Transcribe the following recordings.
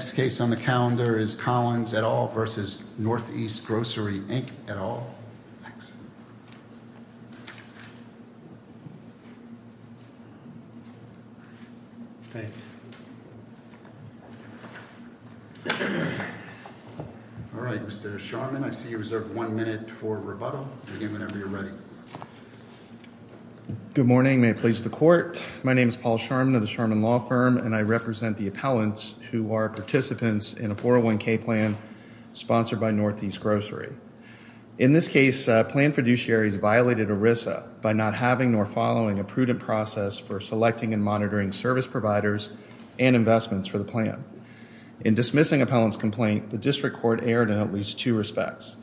Next case on the calendar is Collins et al. v. Northeast Grocery, Inc. et al. Mr. Sharman, I see you reserve one minute for rebuttal. Begin whenever you're ready. Good morning. May it please the court. My name is Paul Sharman of the Sharman Law Firm, and I represent the appellants who are participants in a 401k plan sponsored by Northeast Grocery. In this case, planned fiduciaries violated ERISA by not having nor following a prudent process for selecting and monitoring service providers and investments for the plan. In dismissing appellant's complaint, the district court erred in at least two respects.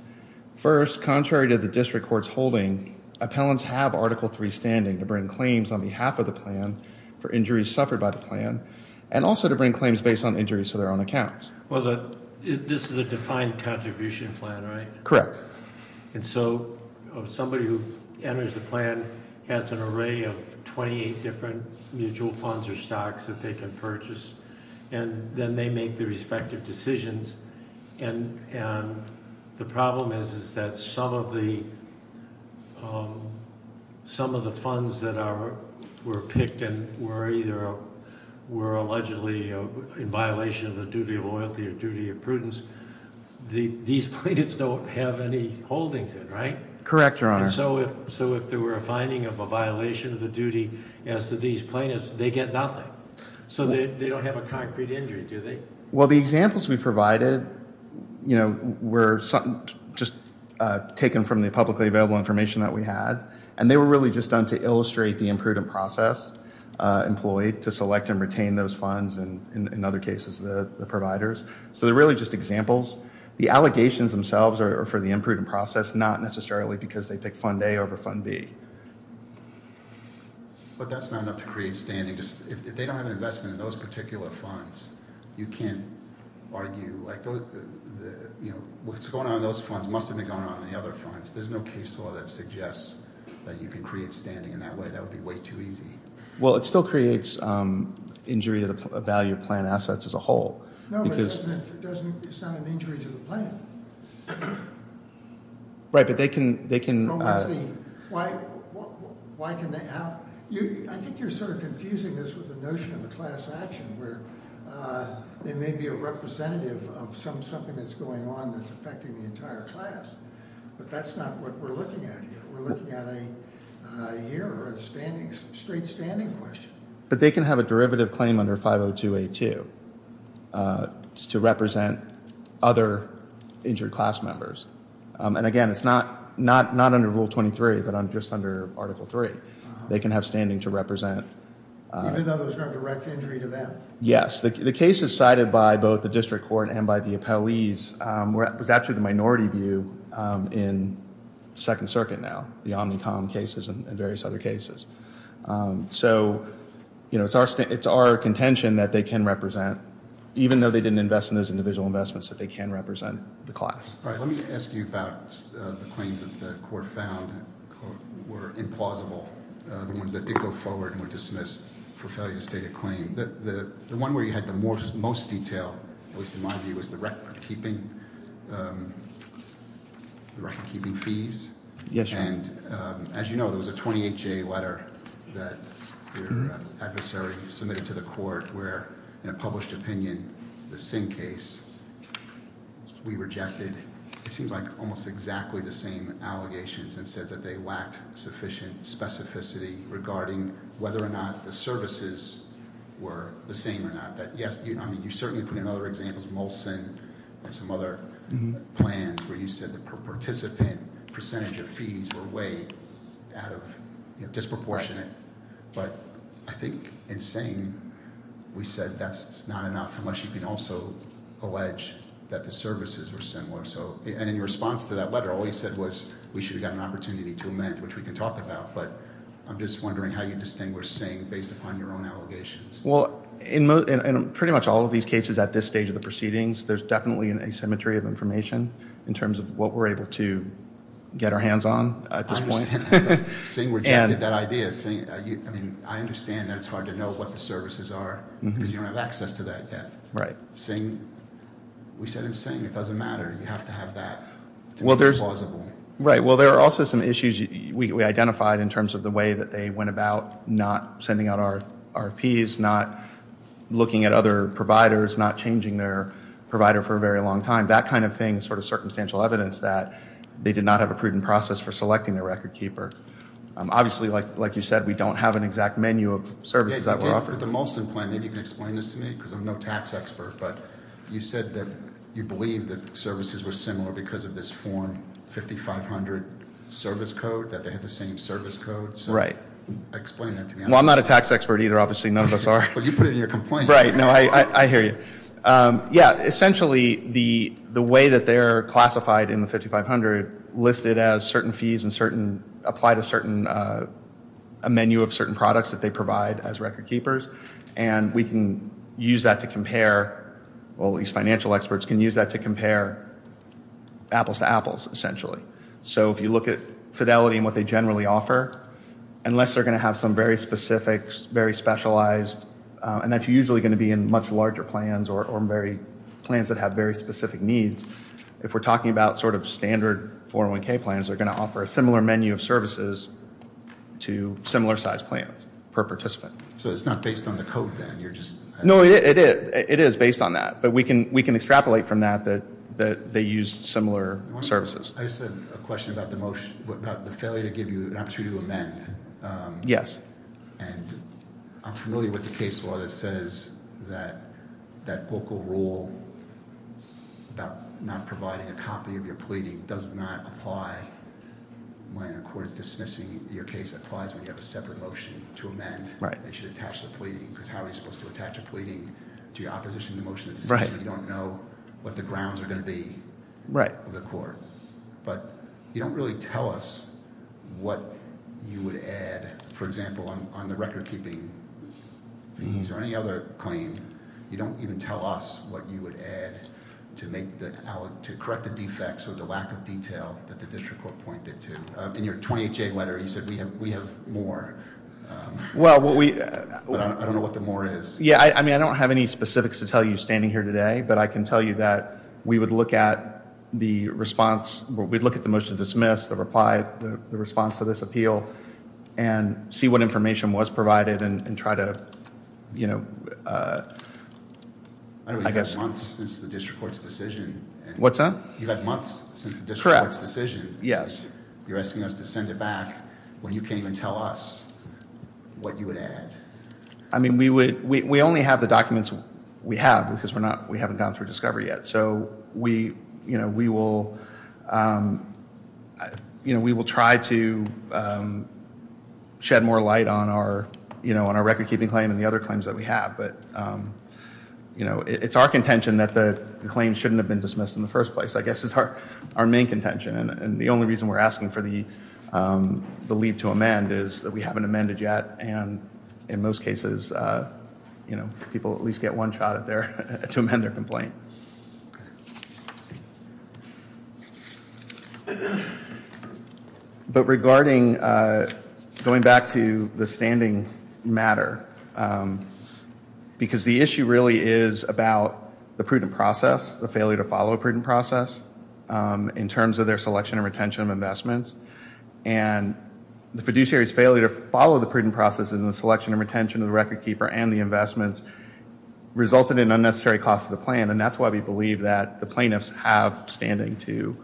First, contrary to the district court's holding, appellants have Article III standing to bring claims on behalf of the plan for injuries suffered by the plan, and also to bring claims based on injuries to their own accounts. Well, this is a defined contribution plan, right? Correct. And so somebody who enters the plan has an array of 28 different mutual funds or stocks that they can purchase, and then they make their respective decisions. And the problem is that some of the funds that were picked and were allegedly in violation of the duty of loyalty or duty of prudence, these plaintiffs don't have any holdings in, right? Correct, Your Honor. And so if there were a finding of a violation of the duty as to these plaintiffs, they get nothing. So they don't have a concrete injury, do they? Well, the examples we provided were just taken from the publicly available information that we had, and they were really just done to illustrate the imprudent process employed to select and retain those funds and, in other cases, the providers. So they're really just examples. The allegations themselves are for the imprudent process, not necessarily because they pick Fund A over Fund B. But that's not enough to create standing. If they don't have an investment in those particular funds, you can't argue, like, you know, what's going on in those funds must have been going on in the other funds. There's no case law that suggests that you can create standing in that way. That would be way too easy. Well, it still creates injury to the value of plan assets as a whole. No, but it doesn't sound an injury to the plaintiff. Right, but they can— I think you're sort of confusing this with the notion of a class action where they may be a representative of something that's going on that's affecting the entire class. But that's not what we're looking at here. We're looking at a year or a straight standing question. But they can have a derivative claim under 502A2 to represent other injured class members. And, again, it's not under Rule 23, but just under Article 3. They can have standing to represent— Even though there's no direct injury to them? Yes. The cases cited by both the district court and by the appellees was actually the minority view in Second Circuit now, the Omnicom cases and various other cases. So, you know, it's our contention that they can represent, even though they didn't invest in those individual investments, that they can represent the class. All right, let me ask you about the claims that the court found were implausible, the ones that did go forward and were dismissed for failure to state a claim. The one where you had the most detail, at least in my view, was the recordkeeping fees. Yes, Your Honor. And, as you know, there was a 28-J letter that your adversary submitted to the court where, in a published opinion, the Singh case, we rejected, it seems like, almost exactly the same allegations and said that they lacked sufficient specificity regarding whether or not the services were the same or not. I mean, you certainly put in other examples, Molson and some other plans, where you said the participant percentage of fees were way out of—you know, disproportionate. But I think in Singh, we said that's not enough unless you can also allege that the services were similar. And in your response to that letter, all you said was we should have gotten an opportunity to amend, which we can talk about. But I'm just wondering how you distinguish Singh based upon your own allegations. Well, in pretty much all of these cases at this stage of the proceedings, there's definitely an asymmetry of information in terms of what we're able to get our hands on at this point. Singh rejected that idea. I mean, I understand that it's hard to know what the services are because you don't have access to that yet. Right. Singh—we said in Singh it doesn't matter. You have to have that to be plausible. Right. Well, there are also some issues we identified in terms of the way that they went about not sending out RFPs, not looking at other providers, not changing their provider for a very long time. That kind of thing is sort of circumstantial evidence that they did not have a prudent process for selecting their record keeper. Obviously, like you said, we don't have an exact menu of services that were offered. With the Molson plan, maybe you can explain this to me because I'm no tax expert, but you said that you believe that services were similar because of this form 5500 service code, that they had the same service code. Right. Explain that to me. Well, I'm not a tax expert either, obviously. None of us are. Well, you put it in your complaint. Right. No, I hear you. Yeah. Essentially, the way that they're classified in the 5500 listed as certain fees and apply to a menu of certain products that they provide as record keepers. And we can use that to compare—well, these financial experts can use that to compare apples to apples, essentially. So if you look at fidelity and what they generally offer, unless they're going to have some very specific, very specialized—and that's usually going to be in much larger plans or plans that have very specific needs. If we're talking about sort of standard 401k plans, they're going to offer a similar menu of services to similar size plans per participant. So it's not based on the code, then? No, it is based on that. But we can extrapolate from that that they used similar services. I just have a question about the motion, about the failure to give you an opportunity to amend. Yes. And I'm familiar with the case law that says that that local rule about not providing a copy of your pleading does not apply when a court is dismissing your case. It applies when you have a separate motion to amend. Right. They should attach the pleading, because how are you supposed to attach a pleading to your opposition to the motion of the decision if you don't know what the grounds are going to be of the court? But you don't really tell us what you would add. For example, on the recordkeeping fees or any other claim, you don't even tell us what you would add to correct the defects or the lack of detail that the district court pointed to. In your 20HA letter, you said we have more. Well, what we— But I don't know what the more is. Yeah, I mean, I don't have any specifics to tell you standing here today, but I can tell you that we would look at the response. We'd look at the motion to dismiss, the reply, the response to this appeal, and see what information was provided and try to, you know, I guess— I know we've had months since the district court's decision. What's that? You've had months since the district court's decision. Yes. You're asking us to send it back when you can't even tell us what you would add. I mean, we only have the documents we have because we haven't gone through discovery yet. So, you know, we will try to shed more light on our recordkeeping claim and the other claims that we have. But, you know, it's our contention that the claim shouldn't have been dismissed in the first place. I guess it's our main contention. And the only reason we're asking for the leave to amend is that we haven't amended yet. And in most cases, you know, people at least get one shot at their—to amend their complaint. But regarding—going back to the standing matter, because the issue really is about the prudent process, the failure to follow a prudent process, in terms of their selection and retention of investments, and the fiduciary's failure to follow the prudent processes and the selection and retention of the recordkeeper and the investments resulted in unnecessary costs to the plan. And that's why we believe that the plaintiffs have standing to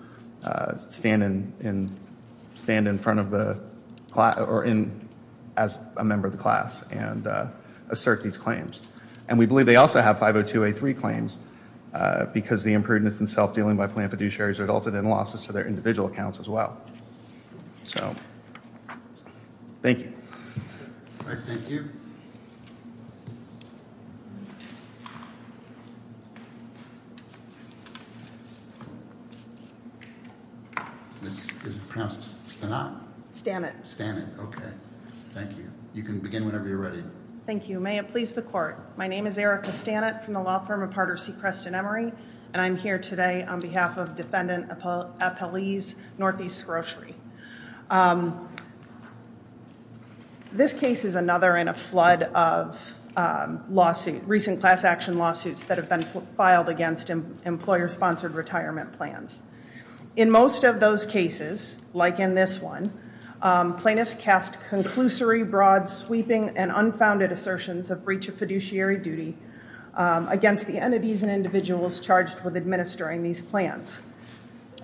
stand in front of the—or as a member of the class and assert these claims. And we believe they also have 502A3 claims because the imprudence and self-dealing by plaintiff fiduciaries resulted in losses to their individual accounts as well. So, thank you. All right, thank you. This is pronounced Stanot? Stanot, okay. Thank you. You can begin whenever you're ready. Thank you. May it please the Court. My name is Erica Stanot from the law firm of Harder C. Creston Emery, and I'm here today on behalf of Defendant Apelles, Northeast Grocery. This case is another in a flood of recent class action lawsuits that have been filed against employer-sponsored retirement plans. In most of those cases, like in this one, plaintiffs cast conclusory, broad, sweeping, and unfounded assertions of breach of fiduciary duty against the entities and individuals charged with administering these plans.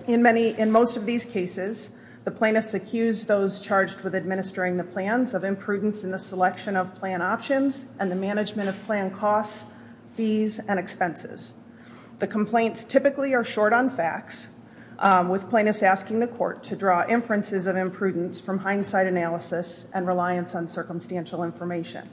In most of these cases, the plaintiffs accused those charged with administering the plans of imprudence in the selection of plan options and the management of plan costs, fees, and expenses. The complaints typically are short on facts, with plaintiffs asking the Court to draw inferences of imprudence from hindsight analysis and reliance on circumstantial information.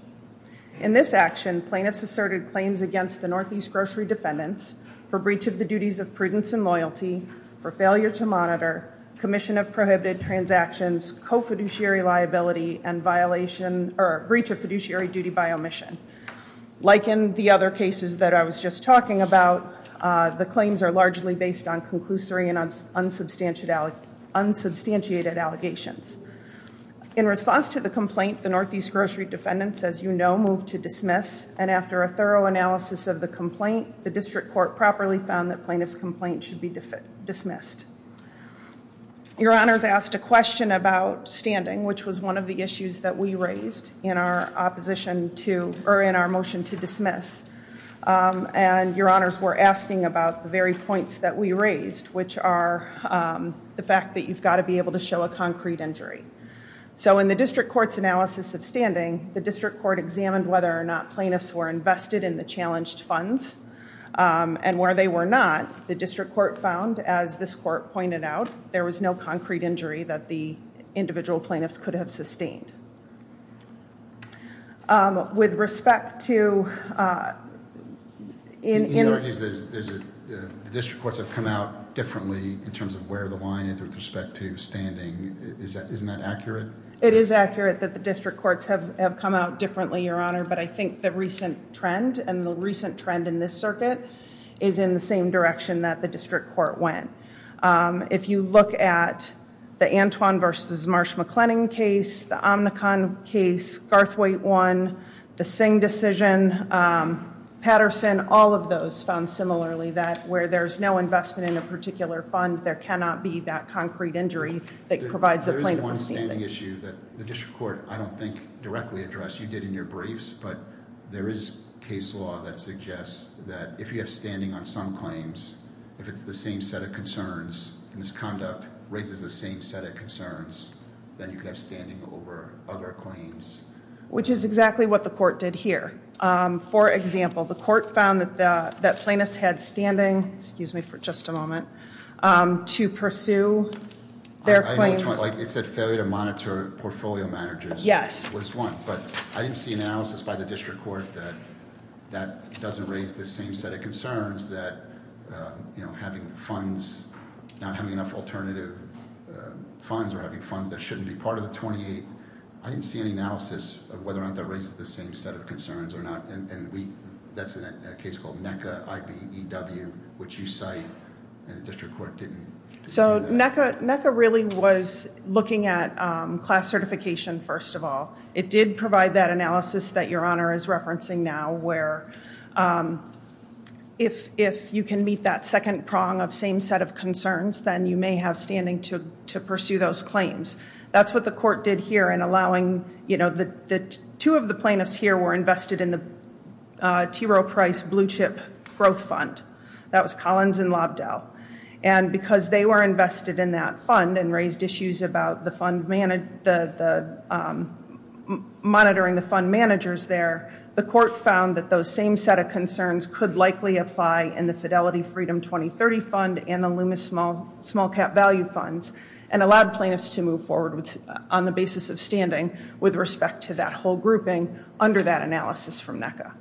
In this action, plaintiffs asserted claims against the Northeast Grocery defendants for breach of the duties of prudence and loyalty, for failure to monitor, commission of prohibited transactions, co-fiduciary liability, and breach of fiduciary duty by omission. Like in the other cases that I was just talking about, the claims are largely based on conclusory and unsubstantiated allegations. In response to the complaint, the Northeast Grocery defendants, as you know, moved to dismiss, and after a thorough analysis of the complaint, the district court properly found that plaintiff's complaint should be dismissed. Your Honors asked a question about standing, which was one of the issues that we raised in our motion to dismiss, and your Honors were asking about the very points that we raised, which are the fact that you've got to be able to show a concrete injury. So in the district court's analysis of standing, the district court examined whether or not plaintiffs were invested in the challenged funds, and where they were not, the district court found, as this court pointed out, there was no concrete injury that the individual plaintiffs could have sustained. With respect to in- In other words, the district courts have come out differently in terms of where the line is with respect to standing. Isn't that accurate? It is accurate that the district courts have come out differently, your Honor, but I think the recent trend, and the recent trend in this circuit, is in the same direction that the district court went. If you look at the Antwon v. Marsh-McLennan case, the Omnicon case, Garthwaite one, the Singh decision, Patterson, all of those found similarly that where there's no investment in a particular fund, there cannot be that concrete injury that provides a plaintiff with standing. There is one standing issue that the district court, I don't think, directly addressed. You did in your briefs, but there is case law that suggests that if you have standing on some claims, if it's the same set of concerns, and this conduct raises the same set of concerns, then you could have standing over other claims. Which is exactly what the court did here. For example, the court found that plaintiffs had standing, excuse me for just a moment, to pursue their claims. It said failure to monitor portfolio managers was one, but I didn't see analysis by the district court that that doesn't raise the same set of concerns that having funds, not having enough alternative funds or having funds that shouldn't be part of the 28, I didn't see any analysis of whether or not that raises the same set of concerns or not. And that's in a case called NECA, IBEW, which you cite, and the district court didn't. So NECA really was looking at class certification, first of all. It did provide that analysis that Your Honor is referencing now, where if you can meet that second prong of same set of concerns, then you may have standing to pursue those claims. That's what the court did here in allowing, you know, two of the plaintiffs here were invested in the T. Roe Price Blue Chip Growth Fund. That was Collins and Lobdell. And because they were invested in that fund and raised issues about the monitoring the fund managers there, the court found that those same set of concerns could likely apply in the Fidelity Freedom 2030 Fund and the Loomis Small Cap Value Funds and allowed plaintiffs to move forward on the basis of standing with respect to that whole grouping under that analysis from NECA.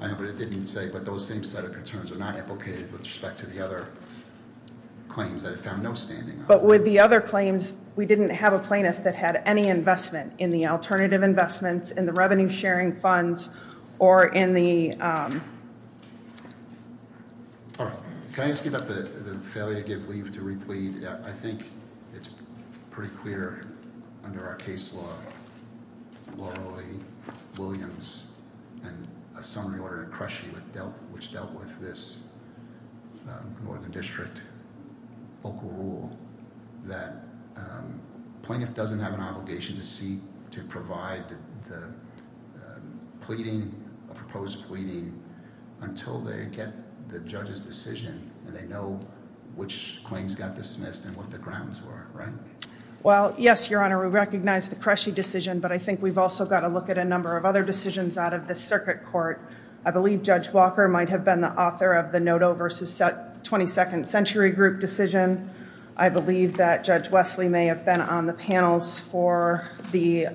I know, but it didn't say, but those same set of concerns are not implicated with respect to the other claims that it found no standing on. But with the other claims, we didn't have a plaintiff that had any investment in the alternative investments, in the revenue sharing funds, or in the. All right. Can I ask you about the failure to give leave to replead? I think it's pretty clear under our case law, Laura Lee Williams, and a summary order to crush you, which dealt with this Northern District local rule, that plaintiff doesn't have an obligation to seek to provide the pleading, a proposed pleading, until they get the judge's decision and they know which claims got dismissed and what the grounds were, right? Well, yes, Your Honor, we recognize the Cresci decision, but I think we've also got to look at a number of other decisions out of the circuit court. I believe Judge Walker might have been the author of the Noto versus 22nd Century Group decision. I believe that Judge Wesley may have been on the panels for the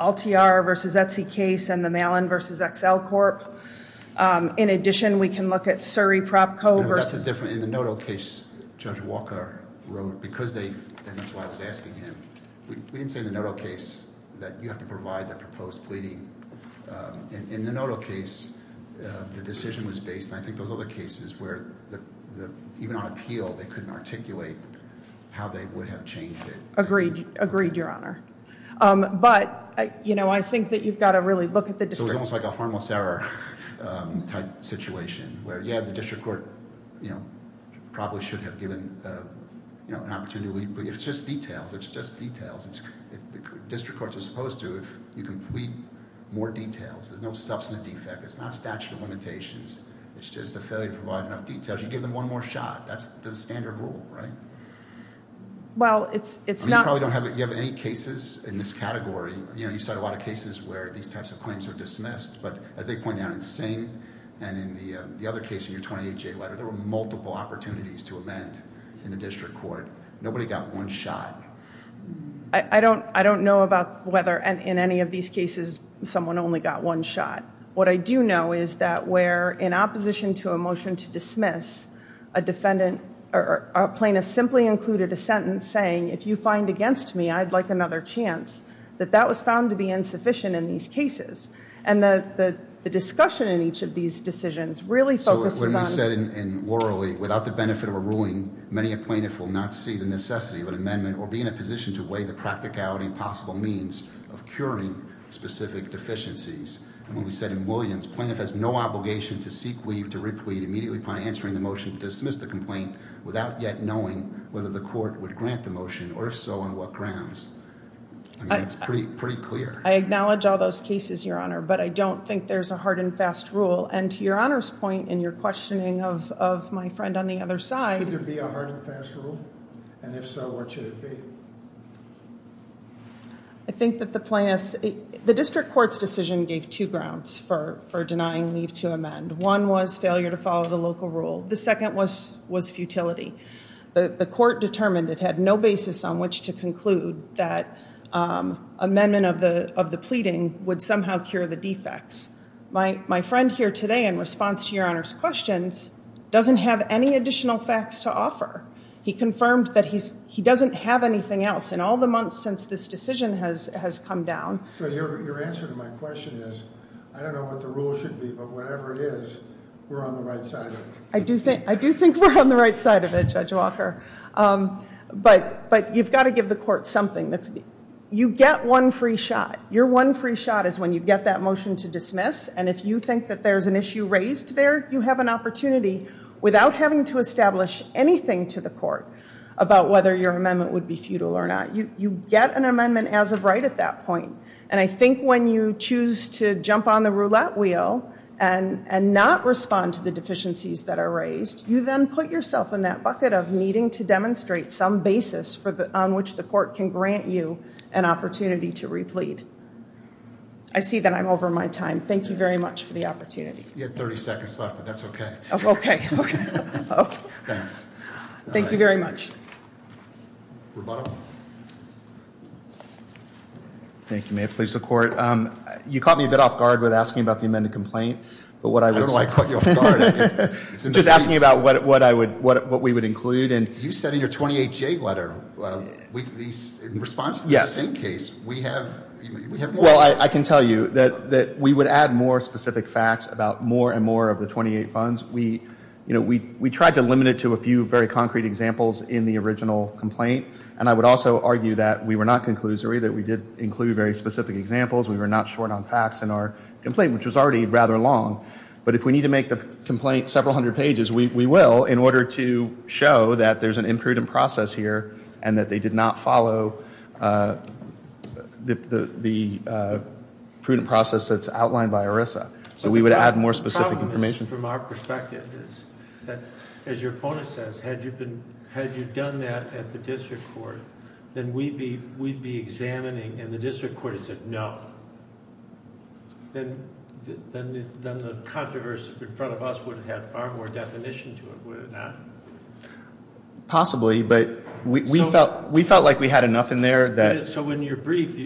Altiar versus Etsy case and the Malin versus XL Corp. In addition, we can look at Surrey Prop Co versus. That's a different, in the Noto case, Judge Walker wrote, because they, and that's why I was asking him, we didn't say in the Noto case that you have to provide the proposed pleading. In the Noto case, the decision was based, and I think those other cases, where even on appeal, they couldn't articulate how they would have changed it. Agreed, Your Honor. But, you know, I think that you've got to really look at the district court. So it's almost like a harmless error type situation, where, yeah, the district court probably should have given an opportunity, but it's just details, it's just details. District courts are supposed to, if you can plead, more details. There's no substantive defect. It's not statute of limitations. It's just a failure to provide enough details. You give them one more shot. That's the standard rule, right? Well, it's not... I mean, you probably don't have any cases in this category. You know, you cite a lot of cases where these types of claims are dismissed, but as they point out in Sing and in the other case in your 28-J letter, there were multiple opportunities to amend in the district court. Nobody got one shot. I don't know about whether in any of these cases someone only got one shot. What I do know is that where in opposition to a motion to dismiss, a plaintiff simply included a sentence saying, if you find against me, I'd like another chance, that that was found to be insufficient in these cases. And the discussion in each of these decisions really focuses on... So when we said in Worley, without the benefit of a ruling, many a plaintiff will not see the necessity of an amendment or be in a position to weigh the practicality and possible means of curing specific deficiencies. When we said in Williams, plaintiff has no obligation to seek, weave, to re-plead, immediately upon answering the motion to dismiss the complaint, without yet knowing whether the court would grant the motion, or if so, on what grounds. I mean, it's pretty clear. I acknowledge all those cases, Your Honor, but I don't think there's a hard and fast rule. And to Your Honor's point in your questioning of my friend on the other side... Should there be a hard and fast rule? And if so, what should it be? I think that the plaintiffs... The district court's decision gave two grounds for denying leave to amend. One was failure to follow the local rule. The second was futility. The court determined it had no basis on which to conclude that amendment of the pleading would somehow cure the defects. My friend here today, in response to Your Honor's questions, doesn't have any additional facts to offer. He confirmed that he doesn't have anything else. In all the months since this decision has come down... So, your answer to my question is, I don't know what the rule should be, but whatever it is, we're on the right side of it. I do think we're on the right side of it, Judge Walker. But, you've got to give the court something. You get one free shot. Your one free shot is when you get that motion to dismiss, and if you think that there's an issue raised there, you have an opportunity, without having to establish anything to the court, about whether your amendment would be futile or not. You get an amendment as of right at that point. And I think when you choose to jump on the roulette wheel and not respond to the deficiencies that are raised, you then put yourself in that bucket of needing to demonstrate some basis on which the court can grant you an opportunity to replead. I see that I'm over my time. Thank you very much for the opportunity. You had 30 seconds left, but that's okay. Thanks. Thank you very much. Rebuttal. Thank you, Mayor. Please, the court. You caught me a bit off guard with asking about the amended complaint. I don't know why I caught you off guard. I'm just asking about what we would include. You said in your 28-J letter, in response to the sin case, we have more. I can tell you that we would add more specific facts about more and more of the 28 funds. We tried to limit it to a few very concrete examples in the original complaint, and I would also argue that we were not conclusory, that we did include very specific examples. We were not short on facts in our complaint, which was already rather long. But if we need to make the complaint several hundred pages, we will in order to show that there's an imprudent process here and that they did not follow the prudent process that's outlined by ERISA. So we would add more specific information. The problem is from our perspective. As your opponent says, had you done that at the district court, then we'd be examining, and the district court has said no. Then the controversy in front of us would have had far more definition to it, would it not? Possibly, but we felt like we had enough in there. So in your brief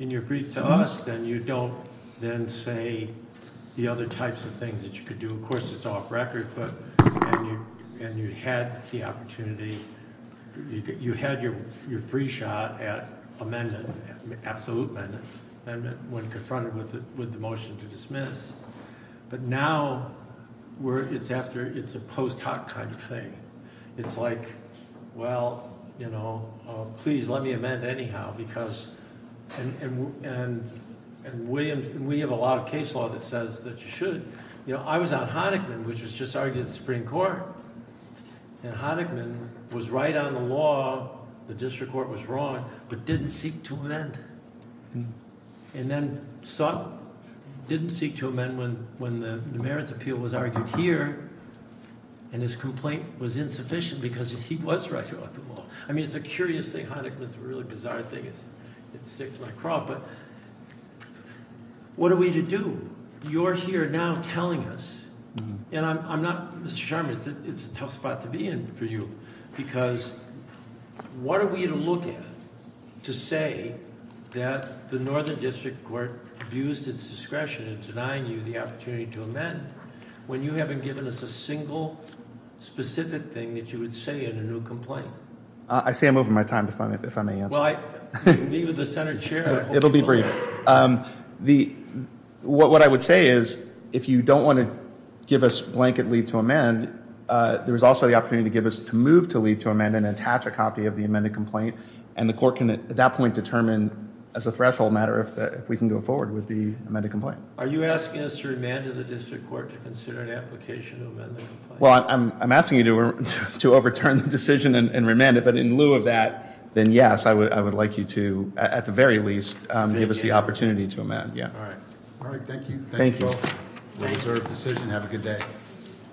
to us, then you don't then say the other types of things that you could do. Of course, it's off record, and you had the opportunity. You had your free shot at amendment, absolute amendment, when confronted with the motion to dismiss. But now it's a post hoc kind of thing. It's like, well, please let me amend anyhow. And we have a lot of case law that says that you should. I was on Honickman, which was just argued at the Supreme Court. And Honickman was right on the law. The district court was wrong, but didn't seek to amend. And then sought, didn't seek to amend when the merits appeal was argued here, and his complaint was insufficient because he was right on the law. I mean, it's a curious thing. Honickman's a really bizarre thing. It sticks in my craw, but what are we to do? You're here now telling us, and I'm not, Mr. Sherman, it's a tough spot to be in for you. Because what are we to look at to say that the Northern District Court abused its discretion in denying you the opportunity to amend when you haven't given us a single specific thing that you would say in a new complaint? I say I'm over my time, if I may answer. Leave it to the Senate chair. It'll be brief. What I would say is, if you don't want to give us blanket leave to amend, there is also the opportunity to give us to move to leave to amend and attach a copy of the amended complaint, and the court can at that point determine as a threshold matter if we can go forward with the amended complaint. Are you asking us to remand to the district court to consider an application to amend the complaint? Well, I'm asking you to overturn the decision and remand it. But in lieu of that, then yes, I would like you to, at the very least, give us the opportunity to amend. All right. All right, thank you. Thank you all. We'll observe the decision. Have a good day.